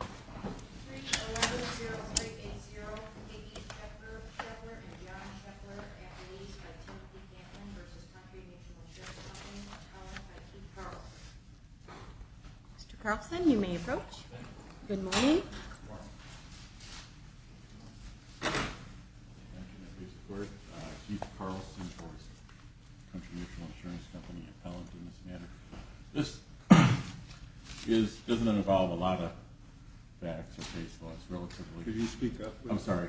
3-11-0-3-8-0 Katie Scheppler and John Scheppler Appellees by Timothy Kaplan v. Country Mutual Insurance Company Appellant by Keith Carlson Mr. Carlson, you may approach. Thank you. Good morning. Mr. Carlson. Thank you, Mrs. Quirt. Keith Carlson for Country Mutual Insurance Company Appellant in this matter. This does not involve a lot of facts or case laws, relatively. Could you speak up, please? I'm sorry.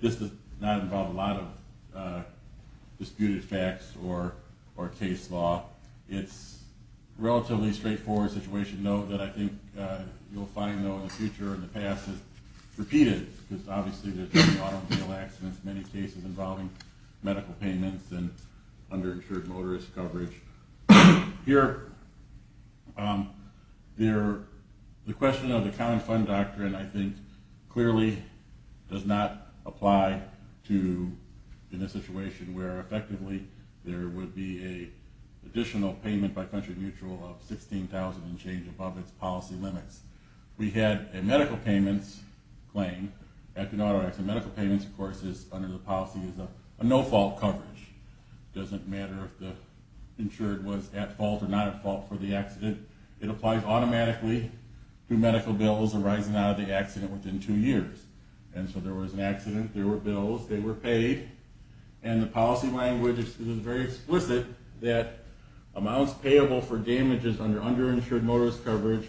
This does not involve a lot of disputed facts or case law. It's a relatively straightforward situation, though, that I think you'll find, though, in the future or in the past, is repeated. Because, obviously, there have been a lot of real accidents, many cases involving medical payments and underinsured motorist coverage. Here, the question of the Common Fund Doctrine, I think, clearly does not apply in a situation where, effectively, there would be an additional payment by Country Mutual of $16,000 and change above its policy limits. We had a medical payments claim. Medical payments, of course, under the policy is a no-fault coverage. It doesn't matter if the insured was at fault or not at fault for the accident. It applies automatically to medical bills arising out of the accident within two years. And so there was an accident, there were bills, they were paid. And the policy language is very explicit that amounts payable for damages under underinsured motorist coverage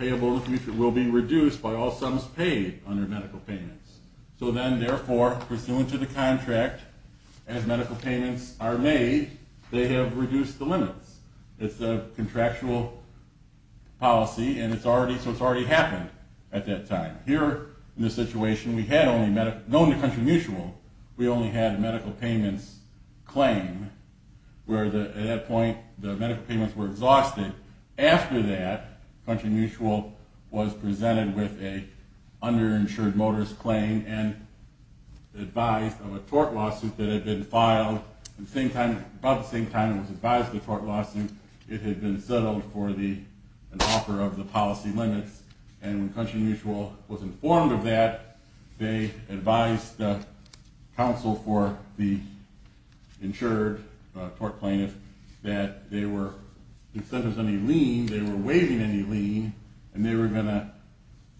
will be reduced by all sums paid under medical payments. So then, therefore, pursuant to the contract, as medical payments are made, they have reduced the limits. It's a contractual policy, and it's already happened at that time. Here, in this situation, we had only, known to Country Mutual, we only had a medical payments claim, where at that point the medical payments were exhausted. After that, Country Mutual was presented with an underinsured motorist claim and advised of a tort lawsuit that had been filed about the same time it was advised of the tort lawsuit. It had been settled for an offer of the policy limits. And when Country Mutual was informed of that, they advised the counsel for the insured tort plaintiff that they were, if there was any lien, they were waiving any lien, and they were going to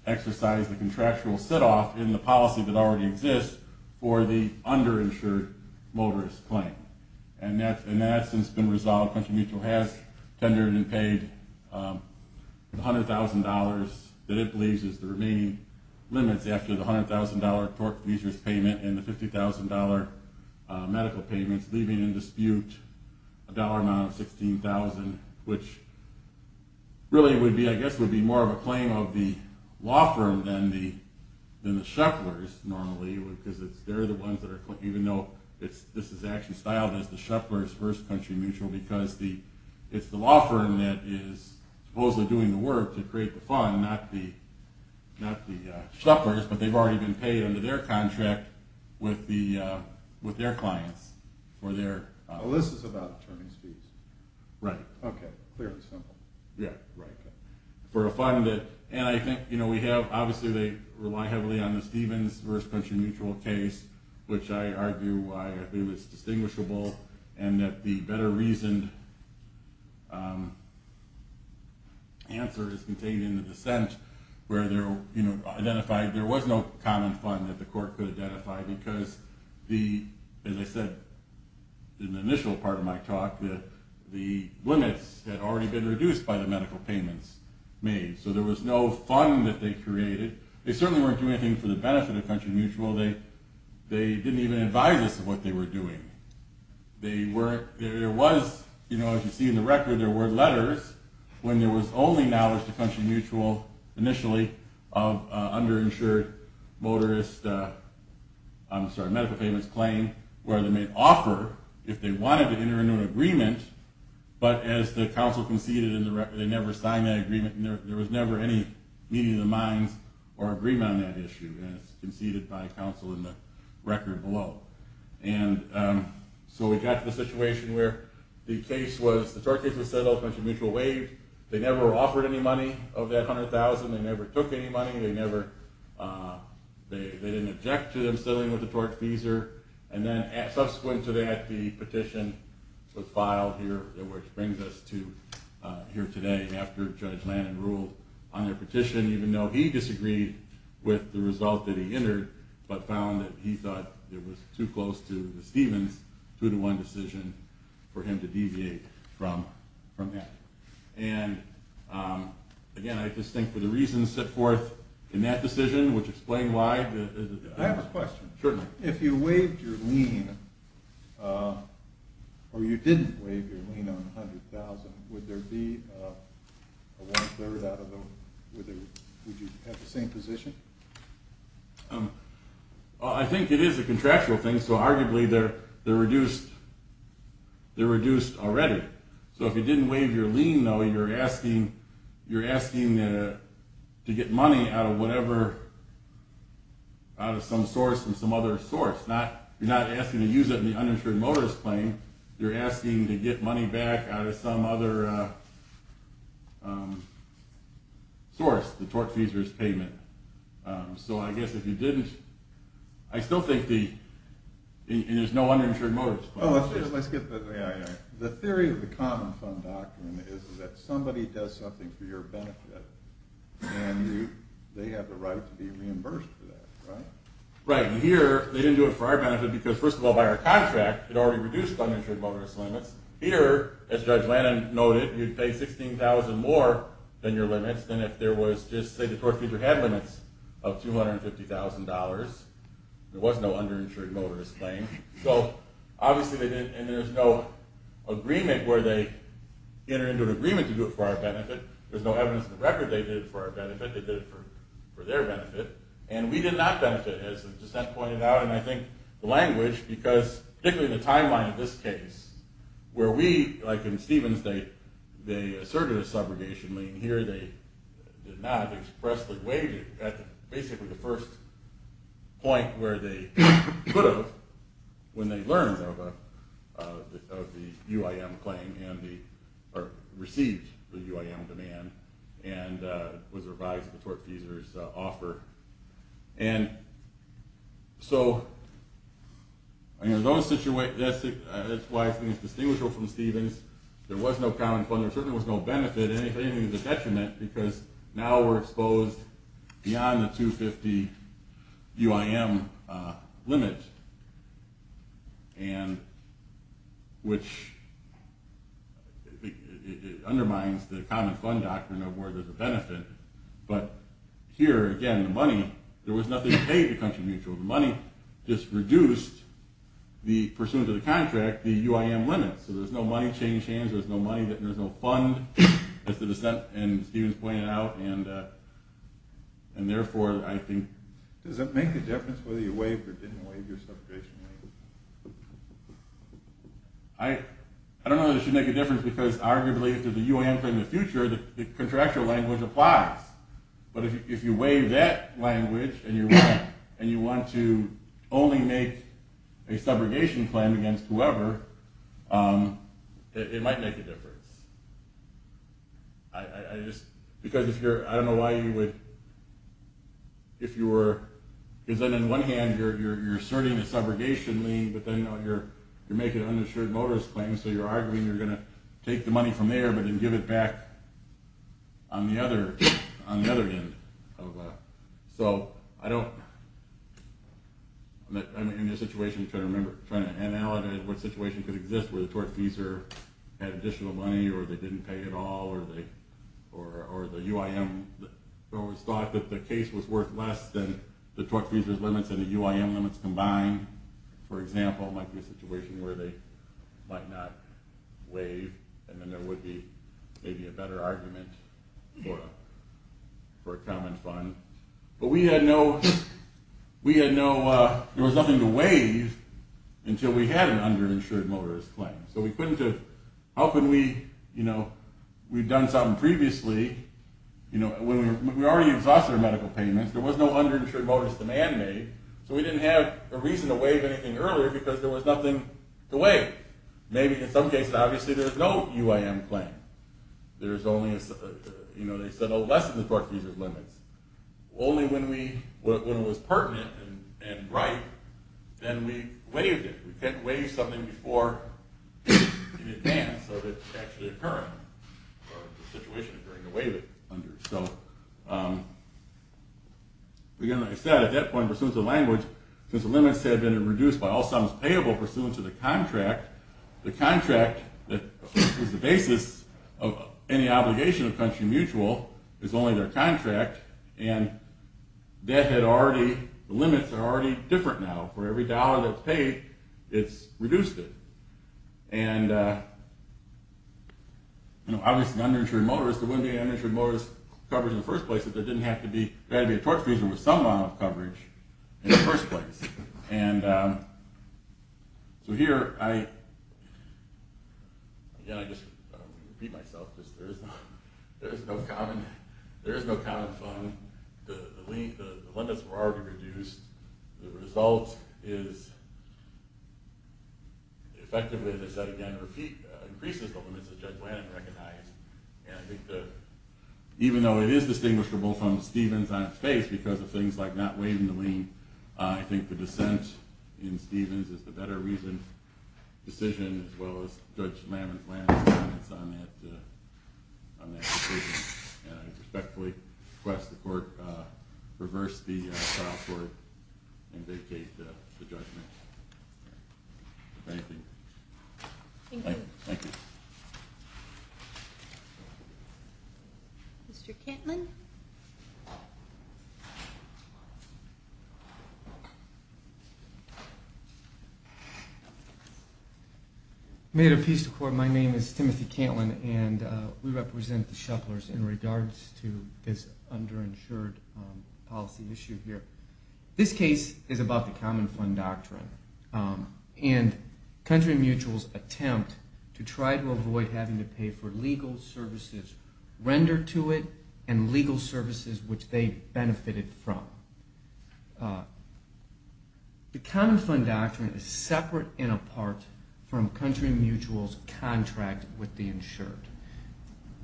exercise the contractual sit-off in the policy that already exists for the underinsured motorist claim. And that has since been resolved. Country Mutual has tendered and paid the $100,000 that it believes is the remaining limits after the $100,000 tort fees payment and the $50,000 medical payments, leaving in dispute a dollar amount of $16,000, which really would be, I guess, would be more of a claim of the law firm than the shufflers normally, because they're the ones that are claiming, even though this is actually styled as the shufflers versus Country Mutual, because it's the law firm that is supposedly doing the work to create the fund, not the shufflers, but they've already been paid under their contract with their clients for their... Oh, this is about attorneys' fees. Right. Okay, clearly simple. Yeah, right. For a fund that... And I think we have... Obviously, they rely heavily on the Stevens versus Country Mutual case, which I argue why I think it's distinguishable, and that the better-reasoned answer is contained in the dissent, where there was no common fund that the court could identify, because, as I said in the initial part of my talk, the limits had already been reduced by the medical payments made. So there was no fund that they created. They certainly weren't doing anything for the benefit of Country Mutual. They didn't even advise us of what they were doing. There was, as you see in the record, there were letters, when there was only knowledge to Country Mutual, initially, of underinsured motorist medical payments claim, where they made offer if they wanted to enter into an agreement, but as the counsel conceded in the record, they never signed that agreement. There was never any meeting of the minds or agreement on that issue, and it's conceded by counsel in the record below. And so we got to the situation where the case was... The tort case was settled, Country Mutual waived. They never offered any money of that $100,000. They never took any money. They didn't object to them settling with the tort fees, and then subsequent to that, the petition was filed here, which brings us to here today, after Judge Lannon ruled on their petition, even though he disagreed with the result that he entered, but found that he thought it was too close to the Stevens 2-1 decision for him to deviate from that. And, again, I just think for the reasons set forth in that decision, which explain why... I have a question. If you waived your lien, or you didn't waive your lien on $100,000, would there be a one-third out of the... Would you have the same position? I think it is a contractual thing, so arguably they're reduced already. So if you didn't waive your lien, though, you're asking to get money out of whatever... out of some source from some other source. You're not asking to use it in the uninsured motorist claim. You're asking to get money back out of some other source, the tort fees or his payment. So I guess if you didn't... I still think the... And there's no uninsured motorist claim. Let's get the... is that somebody does something for your benefit, and they have the right to be reimbursed for that, right? Right, and here they didn't do it for our benefit because, first of all, by our contract, it already reduced uninsured motorist limits. Here, as Judge Lannon noted, you'd pay $16,000 more than your limits than if there was just, say, the tort fee that had limits of $250,000. There was no uninsured motorist claim. So, obviously, they didn't... and there's no agreement where they entered into an agreement to do it for our benefit. There's no evidence in the record they did it for our benefit. They did it for their benefit. And we did not benefit, as the dissent pointed out, and I think the language, because particularly the timeline of this case, where we, like in Stevens, they asserted a subrogation lien. Here they did not. They expressed the wage at basically the first point where they could have, when they learned of the UIM claim and received the UIM demand and it was revised at the tort feasor's offer. And so, that's why I think it's distinguishable from Stevens. There was no common fund. There certainly was no benefit. And if anything, it's a detriment because now we're exposed beyond the 250 UIM limit and which undermines the common fund doctrine of where there's a benefit. But here, again, the money, there was nothing to pay the country mutual. The money just reduced, pursuant to the contract, the UIM limit. So there's no money change hands. There's no money that there's no fund. That's the dissent in Stevens pointed out. And therefore, I think... Does it make a difference whether you waive or didn't waive your subrogation lien? I don't know that it should make a difference because arguably if there's a UIM claim in the future, the contractual language applies. But if you waive that language and you want to only make a subrogation claim against whoever, it might make a difference. I just... Because if you're... I don't know why you would... If you were... Because then in one hand, you're asserting a subrogation lien but then you're making an uninsured motorist claim so you're arguing you're going to take the money from there but then give it back on the other end. So I don't... I'm in a situation trying to remember, trying to analogize what situation could exist where the tortfeasor had additional money or they didn't pay it all or the UIM... It was thought that the case was worth less than the tortfeasor's limits and the UIM limits combined. For example, might be a situation where they might not waive and then there would be maybe a better argument for a common fund. But we had no... There was nothing to waive until we had an underinsured motorist claim. So we couldn't have... How can we... We've done something previously. We already exhausted our medical payments. There was no underinsured motorist demand made so we didn't have a reason to waive anything earlier because there was nothing to waive. Maybe in some cases, obviously there's no UIM claim. There's only... They said, oh, less than the tortfeasor's limits. Only when it was pertinent and right then we waived it. We couldn't waive something before in advance of it actually occurring or the situation occurring to waive it. So... Again, like I said, at that point, pursuant to the language, since the limits had been reduced by all sums payable pursuant to the contract, the contract that was the basis of any obligation of country mutual is only their contract and that had already... Now, for every dollar that's paid, it's reduced it. And... Obviously, underinsured motorists, there wouldn't be underinsured motorist coverage in the first place if there didn't have to be... There had to be a tortfeasor with some amount of coverage in the first place. And... So here, I... Again, I just repeat myself. There is no... There is no common... There is no common fund. The limits were already reduced. The result is... Effectively, as I said again, increases the limits that Judge Lannon recognized. And I think that... Even though it is distinguishable from Stevens on its face because of things like not waiving the lien, I think the dissent in Stevens is the better reason, decision, as well as Judge Lannon's comments on that decision. And I respectfully request the court to reverse the trial court and vacate the judgment. If anything. Thank you. Thank you. Mr. Cantlin. Mayor of Peace Department, my name is Timothy Cantlin, and we represent the shufflers in regards to this underinsured policy issue here. This case is about the common fund doctrine. And country mutuals attempt to try to avoid having to pay for legal services rendered to it and legal services which they benefited from. The common fund doctrine is separate and apart from country mutuals' contract with the insured.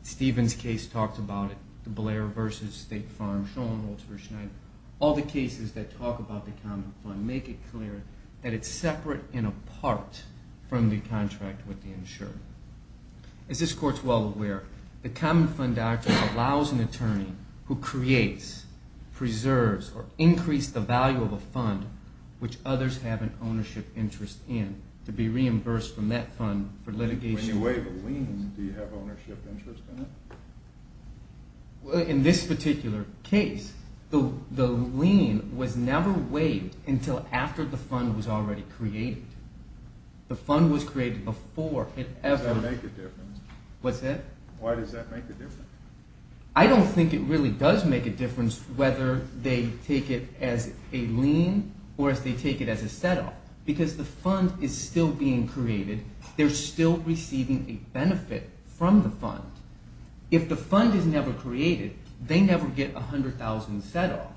Stevens' case talks about it, Blair v. State Farm, Schoenholz v. Schneider. All the cases that talk about the common fund make it clear that it's separate and apart from the contract with the insured. As this court's well aware, the common fund doctrine allows an attorney who creates, preserves, or increased the value of a fund which others have an ownership interest in to be reimbursed from that fund for litigation... When you waive a lien, do you have ownership interest in it? In this particular case, the lien was never waived until after the fund was already created. The fund was created before it ever... Does that make a difference? What's that? Why does that make a difference? I don't think it really does make a difference whether they take it as a lien or as they take it as a set-off because the fund is still being created. They're still receiving a benefit from the fund. If the fund is never created, they never get $100,000 set-off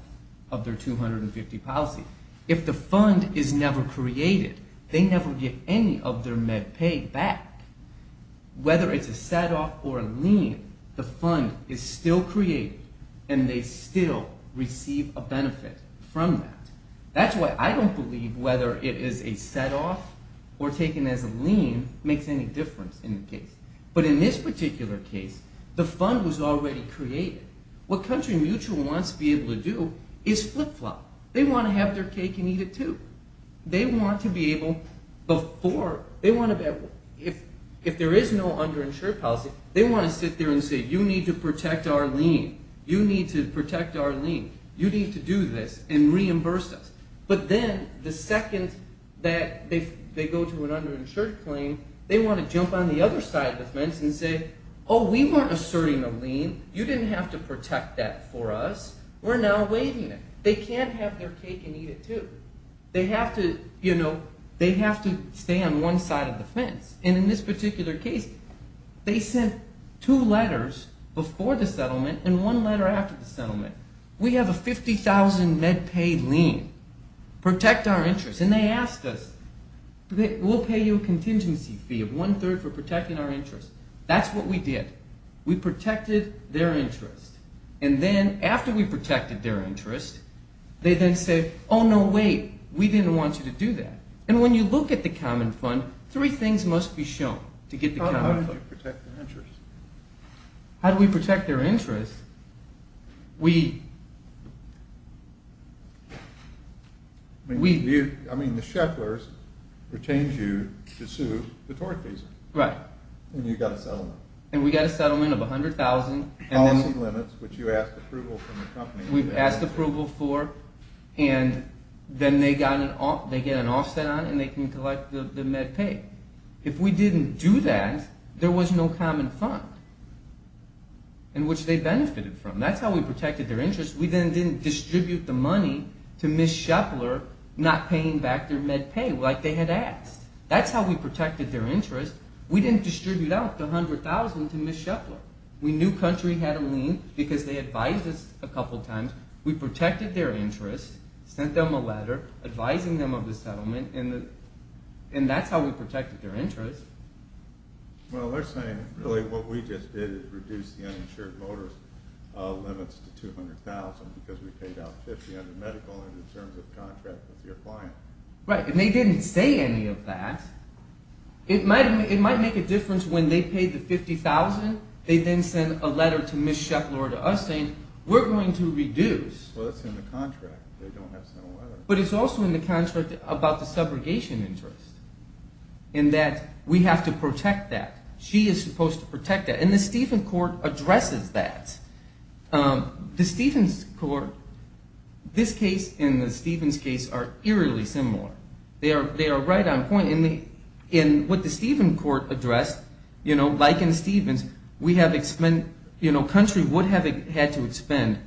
of their $250,000 policy. If the fund is never created, they never get any of their MedPay back. Whether it's a set-off or a lien, the fund is still created and they still receive a benefit from that. That's why I don't believe whether it is a set-off or taken as a lien makes any difference in the case. But in this particular case, the fund was already created. What CountryMutual wants to be able to do is flip-flop. They want to have their cake and eat it too. They want to be able... If there is no underinsured policy, they want to sit there and say, you need to protect our lien. You need to protect our lien. You need to do this and reimburse us. But then, the second that they go to an underinsured claim, they want to jump on the other side of the fence and say, oh, we weren't asserting a lien. You didn't have to protect that for us. We're now waiving it. They can't have their cake and eat it too. They have to stay on one side of the fence. In this particular case, they sent two letters before the settlement and one letter after the settlement. We have a $50,000 MedPay lien. Protect our interest. And they asked us, we'll pay you a contingency fee of one-third for protecting our interest. That's what we did. We protected their interest. And then, after we protected their interest, they then said, oh, no, wait. We didn't want you to do that. And when you look at the common fund, three things must be shown to get the common fund. How do we protect their interest? How do we protect their interest? We... We... I mean, the Shefflers retained you to sue the tort fees. Right. And you got a settlement. And we got a settlement of $100,000. Policy limits, which you asked approval from the company. We asked approval for. And then they get an offset on it and they can collect the MedPay. If we didn't do that, there was no common fund in which they benefited from. That's how we protected their interest. We then didn't distribute the money to Ms. Sheffler not paying back their MedPay like they had asked. That's how we protected their interest. We didn't distribute out the $100,000 to Ms. Sheffler. We knew Country had a lien because they advised us a couple times. We protected their interest, sent them a letter advising them of the settlement, and that's how we protected their interest. Well, they're saying really what we just did is reduce the uninsured motorist limits to $200,000 because we paid out $50,000 in medical and in terms of contract with your client. Right, and they didn't say any of that. It might make a difference when they paid the $50,000. They then sent a letter to Ms. Sheffler to us saying, we're going to reduce. Well, that's in the contract. They don't have to know either. But it's also in the contract about the subrogation interest and that we have to protect that. She is supposed to protect that, and the Stephens Court addresses that. The Stephens Court, this case and the Stephens case, are eerily similar. They are right on point. In what the Stephens Court addressed, like in the Stephens, Country would have had to expend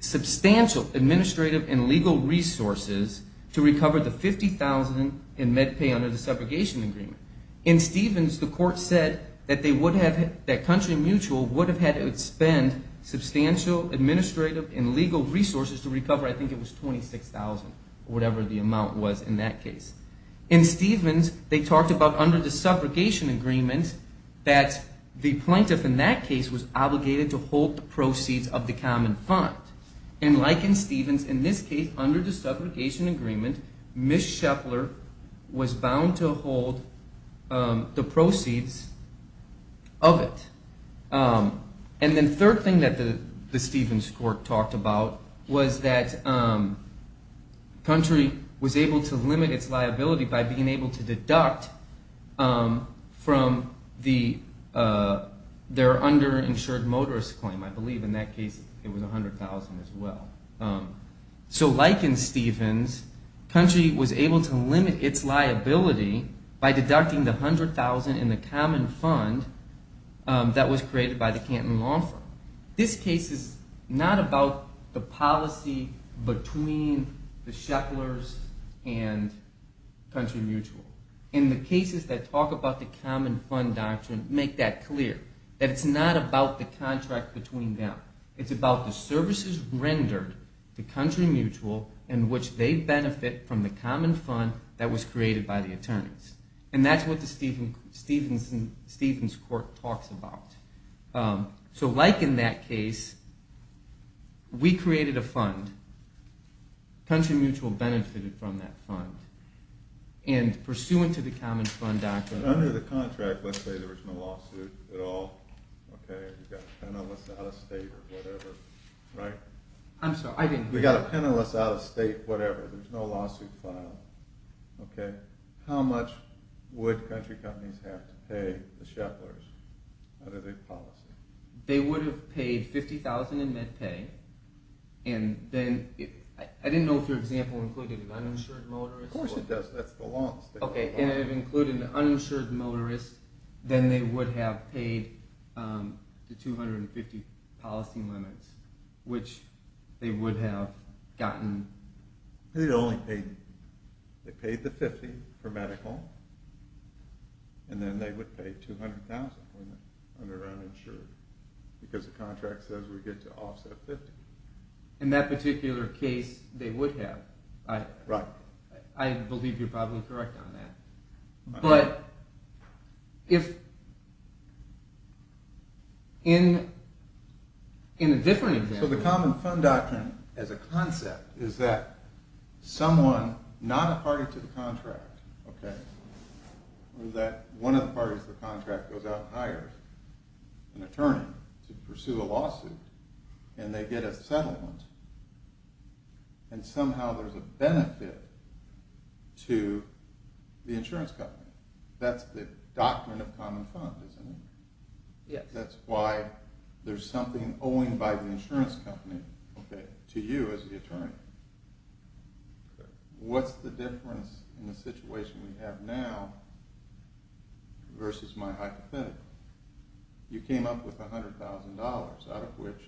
substantial administrative and legal resources to recover the $50,000 in med pay under the subrogation agreement. In Stephens, the court said that Country Mutual would have had to expend substantial administrative and legal resources to recover, I think it was $26,000, whatever the amount was in that case. In Stephens, they talked about under the subrogation agreement that the plaintiff in that case was obligated to hold the proceeds of the common fund. And like in Stephens, in this case, under the subrogation agreement, Ms. Scheffler was bound to hold the proceeds of it. And then the third thing that the Stephens Court talked about was that Country was able to limit its liability by being able to deduct from their underinsured motorist claim. I believe in that case it was $100,000 as well. So like in Stephens, Country was able to limit its liability by deducting the $100,000 in the common fund that was created by the Canton Law Firm. This case is not about the policy between the Schefflers and Country Mutual. And the cases that talk about the common fund doctrine make that clear, that it's not about the contract between them. It's about the services rendered to Country Mutual in which they benefit from the common fund that was created by the attorneys. And that's what the Stephens Court talks about. So like in that case, we created a fund. Country Mutual benefited from that fund. And pursuant to the common fund doctrine... Under the contract, let's say there was no lawsuit at all. You've got a penniless out-of-state or whatever, right? I'm sorry, I didn't hear you. You've got a penniless out-of-state whatever. There's no lawsuit filed. How much would Country Companies have to pay the Schefflers under their policy? They would have paid $50,000 in med pay. And then I didn't know if your example included an uninsured motorist. Of course it does. That's the law in the state. Okay, and if it included an uninsured motorist, then they would have paid the $250,000 policy limits, which they would have gotten... They paid the $50,000 for medical, and then they would pay $200,000 for the uninsured because the contract says we get to offset $50,000. In that particular case, they would have. Right. I believe you're probably correct on that. But if... In a different example... So the Common Fund Doctrine as a concept is that someone not a party to the contract, okay, or that one of the parties to the contract goes out and hires an attorney to pursue a lawsuit, and they get a settlement, and somehow there's a benefit to the insurance company. That's the doctrine of Common Fund, isn't it? Yes. That's why there's something owing by the insurance company to you as the attorney. What's the difference in the situation we have now versus my hypothetical? You came up with $100,000, out of which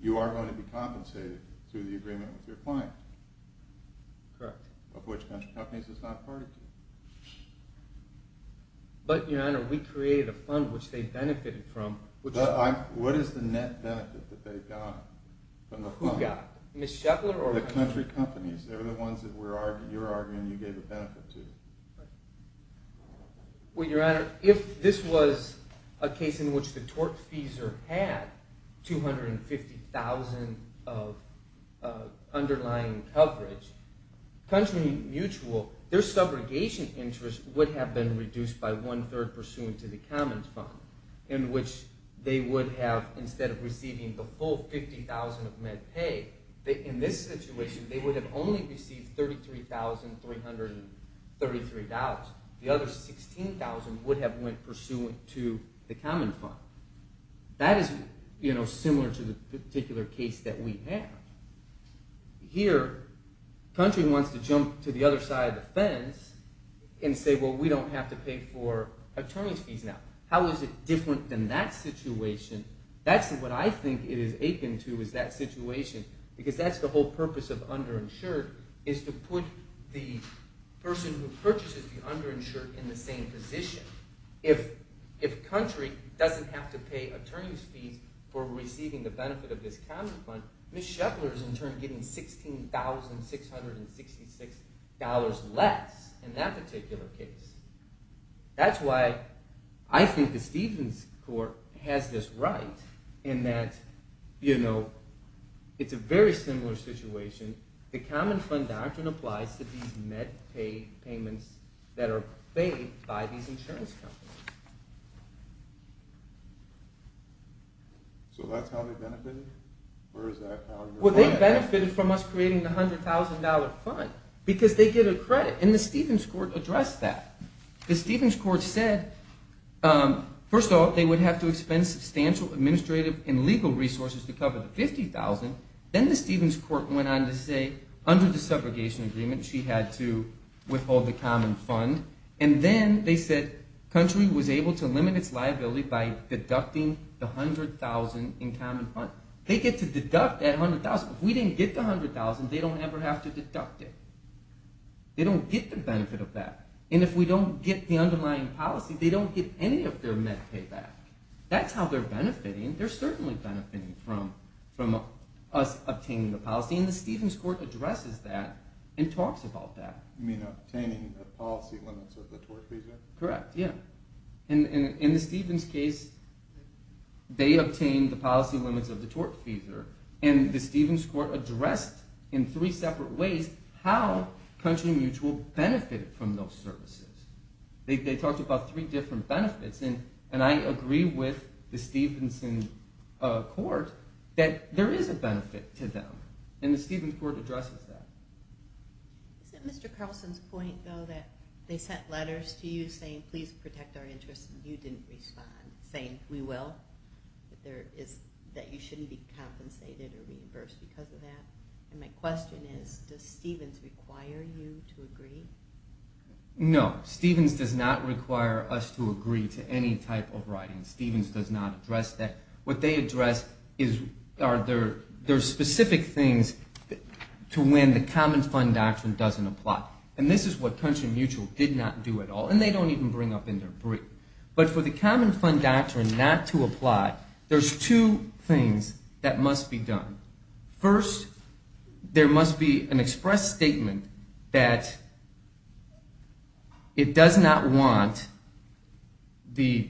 you are going to be compensated through the agreement with your client. Correct. Of which country companies it's not a party to. But, Your Honor, we created a fund which they benefited from. What is the net benefit that they got from the fund? Who got it? Ms. Scheffler or... The country companies. They were the ones that you're arguing you gave a benefit to. Right. Well, Your Honor, if this was a case in which the tortfeasor had $250,000 of underlying coverage, country mutual, their subrogation interest would have been reduced by one-third pursuant to the Common Fund, in which they would have, instead of receiving the full $50,000 of med pay, in this situation they would have only received $33,333. The other $16,000 would have went pursuant to the Common Fund. That is similar to the particular case that we have. Here, country wants to jump to the other side of the fence and say, well, we don't have to pay for attorney's fees now. How is it different than that situation? That's what I think it is akin to, is that situation, because that's the whole purpose of underinsured, is to put the person who purchases the underinsured in the same position. If country doesn't have to pay attorney's fees for receiving the benefit of this Common Fund, Ms. Scheffler is in turn getting $16,666 less in that particular case. That's why I think the Stevens Court has this right in that it's a very similar situation. The Common Fund doctrine applies to these med pay payments that are paid by these insurance companies. So that's how they benefited? Well, they benefited from us creating the $100,000 fund because they get a credit, and the Stevens Court addressed that. The Stevens Court said, first of all, they would have to expend substantial administrative and legal resources to cover the $50,000. Then the Stevens Court went on to say, under the separation agreement, she had to withhold the Common Fund. And then they said, country was able to limit its liability by deducting the $100,000 in Common Fund. They get to deduct that $100,000. If we didn't get the $100,000, they don't ever have to deduct it. They don't get the benefit of that. And if we don't get the underlying policy, they don't get any of their med pay back. That's how they're benefiting. They're certainly benefiting from us obtaining the policy, and the Stevens Court addresses that and talks about that. You mean obtaining the policy limits of the tort fees? Correct, yeah. In the Stevens case, they obtained the policy limits of the tort fees, and the Stevens Court addressed in three separate ways how Country Mutual benefited from those services. They talked about three different benefits, and I agree with the Stevens Court that there is a benefit to them, and the Stevens Court addresses that. Is it Mr. Carlson's point, though, that they sent letters to you saying, please protect our interests, and you didn't respond, saying, we will, that you shouldn't be compensated or reimbursed because of that? And my question is, does Stevens require you to agree? No, Stevens does not require us to agree to any type of writing. Stevens does not address that. What they address are their specific things to when the Common Fund Doctrine doesn't apply, and this is what Country Mutual did not do at all, and they don't even bring up in their brief. But for the Common Fund Doctrine not to apply, there's two things that must be done. First, there must be an express statement that it does not want the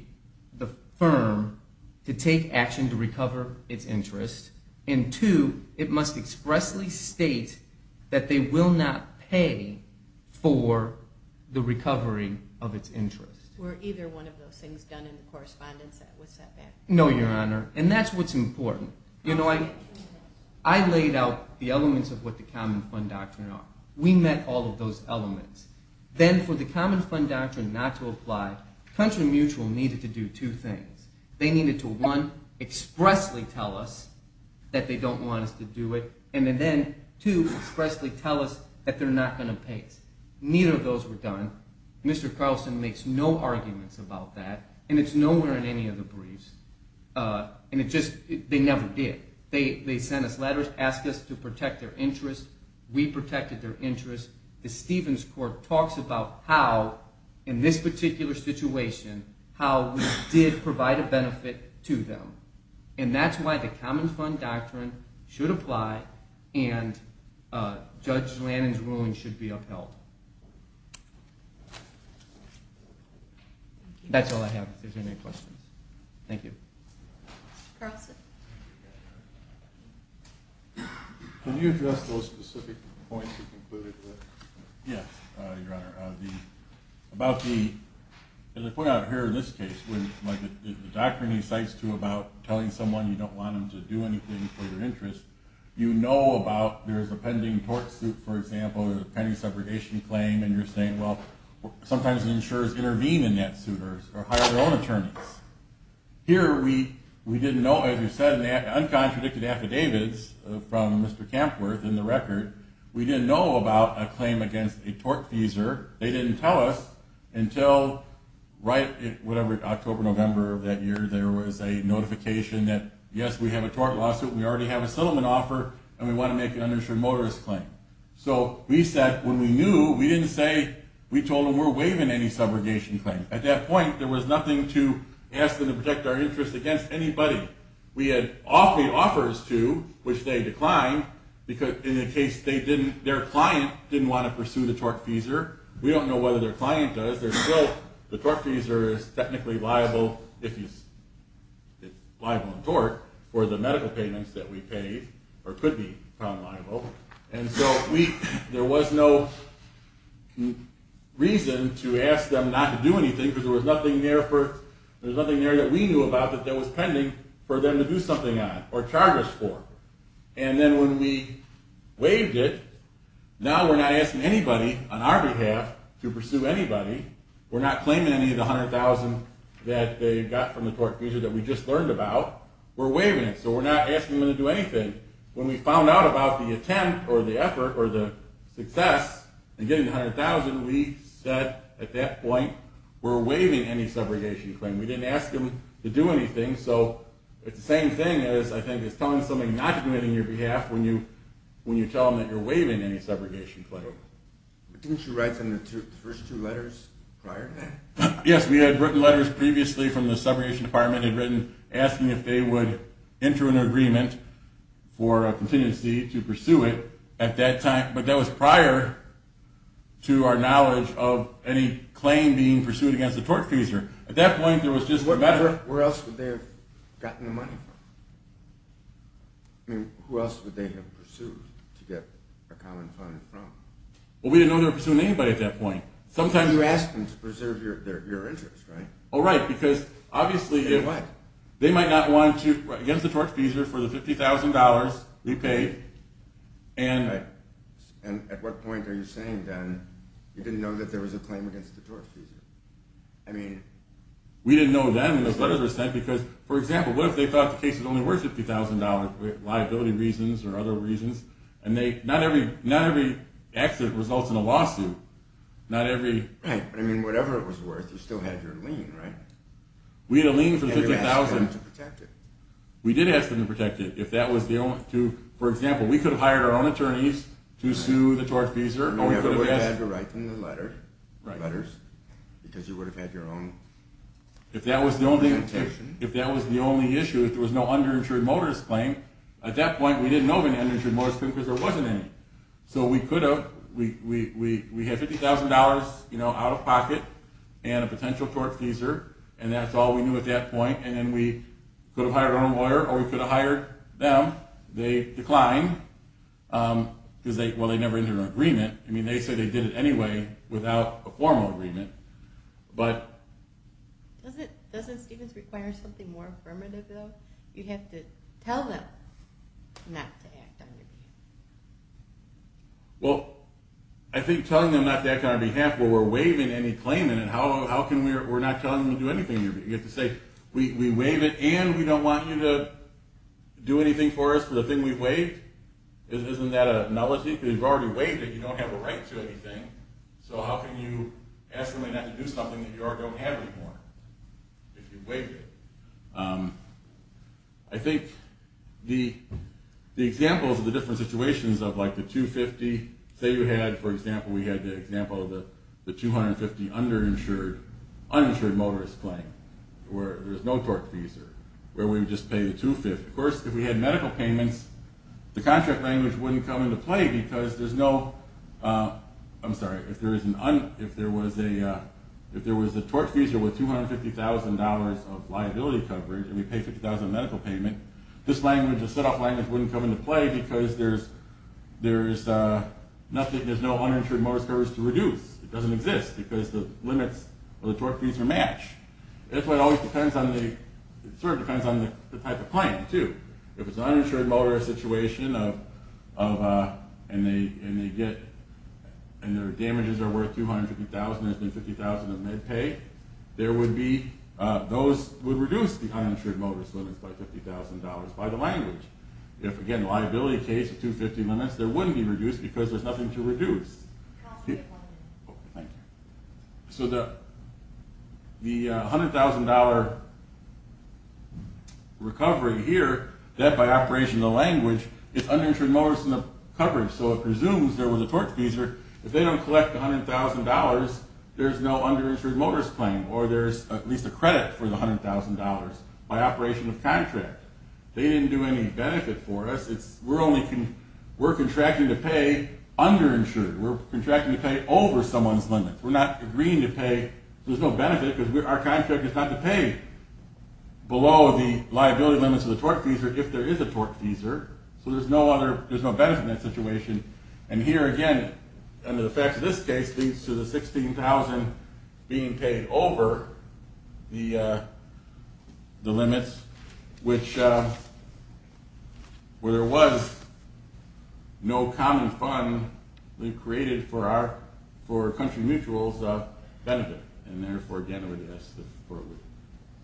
firm to take action to recover its interest, and two, it must expressly state that they will not pay for the recovery of its interest. Were either one of those things done in the correspondence that was sent back? No, Your Honor, and that's what's important. You know, I laid out the elements of what the Common Fund Doctrine are. We met all of those elements. Then for the Common Fund Doctrine not to apply, Country Mutual needed to do two things. They needed to, one, expressly tell us that they don't want us to do it, and then, two, expressly tell us that they're not going to pay us. Neither of those were done. Mr. Carlson makes no arguments about that, and it's nowhere in any of the briefs, and it just, they never did. They sent us letters, asked us to protect their interest. We protected their interest. The Stevens Court talks about how, in this particular situation, how we did provide a benefit to them, and that's why the Common Fund Doctrine should apply and Judge Lannon's ruling should be upheld. That's all I have if there's any questions. Thank you. Mr. Carlson. Can you address those specific points you concluded with? Yes, Your Honor. About the, as I point out here in this case, the doctrine he cites, too, about telling someone you don't want them to do anything for your interest, you know about there's a pending tort suit, for example, or a pending separation claim, and you're saying, well, sometimes insurers intervene in that suit or hire their own attorneys. Here we didn't know, as you said, in the uncontradicted affidavits from Mr. Campworth in the record, we didn't know about a claim against a tort feeser. They didn't tell us until right, whatever, October, November of that year, there was a notification that, yes, we have a tort lawsuit, we already have a settlement offer, and we want to make an uninsured motorist claim. So we said, when we knew, we didn't say, we told them we're waiving any subrogation claim. At that point, there was nothing to ask them to protect our interest against anybody. We had offers to, which they declined, in the case their client didn't want to pursue the tort feeser. We don't know whether their client does. There's still, the tort feeser is technically liable, if it's liable in tort, for the medical payments that we paid, or could be found liable. And so there was no reason to ask them not to do anything, because there was nothing there that we knew about that was pending for them to do something on, or charge us for. And then when we waived it, now we're not asking anybody on our behalf to pursue anybody. We're not claiming any of the $100,000 that they got from the tort feeser that we just learned about. We're waiving it, so we're not asking them to do anything. When we found out about the attempt, or the effort, or the success, in getting the $100,000, we said, at that point, we're waiving any subrogation claim. We didn't ask them to do anything. So it's the same thing as, I think, as telling somebody not to do anything on your behalf when you tell them that you're waiving any subrogation claim. Didn't you write them the first two letters prior to that? Yes, we had written letters previously from the subrogation department. They'd written asking if they would enter an agreement for a contingency to pursue it at that time. But that was prior to our knowledge of any claim being pursued against the tort feeser. At that point, there was just the matter of... Where else would they have gotten the money from? I mean, who else would they have pursued to get a common fund from? Well, we didn't know they were pursuing anybody at that point. Sometimes... You asked them to preserve your interest, right? Oh, right, because obviously... In what? They might not want you against the tort feeser for the $50,000 we paid, and... Right. And at what point are you saying, then, you didn't know that there was a claim against the tort feeser? I mean... We didn't know then, because, for example, what if they thought the case was only worth $50,000 for liability reasons or other reasons? And not every accident results in a lawsuit. Not every... Right, but I mean, whatever it was worth, you still had your lien, right? We had a lien for $50,000. And you asked them to protect it. We did ask them to protect it. If that was the only... For example, we could have hired our own attorneys to sue the tort feeser, or we could have asked... And you never would have had to write them the letters, because you would have had your own... If that was the only issue, if there was no underinsured motorist claim, at that point, we didn't know of an underinsured motorist claim because there wasn't any. So we could have... We had $50,000 out of pocket and a potential tort feeser, and that's all we knew at that point. And then we could have hired our own lawyer, or we could have hired them. They declined, because they never entered an agreement. I mean, they said they did it anyway, without a formal agreement. But... Doesn't Stevens require something more affirmative, though? You have to tell them not to act on your behalf. Well, I think telling them not to act on our behalf, where we're waiving any claim, and how can we not tell them to do anything? You have to say, we waive it, and we don't want you to do anything for us for the thing we've waived? Isn't that a nullity? Because you've already waived it. You don't have a right to anything. So how can you ask them not to do something that you already don't have anymore, if you've waived it? I think the examples of the different situations of like the 250, say you had, for example, we had the example of the 250 underinsured, uninsured motorist claim, where there's no torque fees, where we would just pay the 250. Of course, if we had medical payments, the contract language wouldn't come into play, because there's no... I'm sorry. If there was a torque fee, with $250,000 of liability coverage, and we pay $50,000 medical payment, this set-off language wouldn't come into play, because there's nothing, there's no uninsured motorist coverage to reduce. It doesn't exist, because the limits of the torque fees are matched. That's why it always depends on the... It sort of depends on the type of claim, too. If it's an uninsured motorist situation, and their damages are worth $250,000, and there's been $50,000 of med pay, there would be... Those would reduce the uninsured motorist limits by $50,000 by the language. If, again, liability case, 250 limits, there wouldn't be reduced, because there's nothing to reduce. Thank you. So the $100,000 recovery here, that by operation of the language, is uninsured motorist coverage, so it presumes there was a torque fee, if they don't collect the $100,000, there's no underinsured motorist claim, or there's at least a credit for the $100,000 by operation of contract. They didn't do any benefit for us. We're contracting to pay underinsured. We're contracting to pay over someone's limits. We're not agreeing to pay, so there's no benefit, because our contract is not to pay below the liability limits of the torque fee, if there is a torque fee. So there's no benefit in that situation. And here, again, under the facts of this case, leads to the $16,000 being paid over the limits, which, where there was no common fund, we've created for country mutuals benefit. And therefore, again, I would ask that the court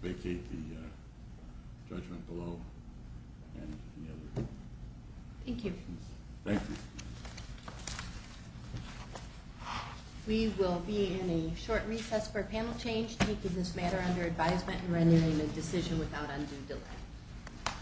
vacate the judgment below. Thank you. Thank you. We will be in a short recess for a panel change, taking this matter under advisement and renewing the decision without undue delay.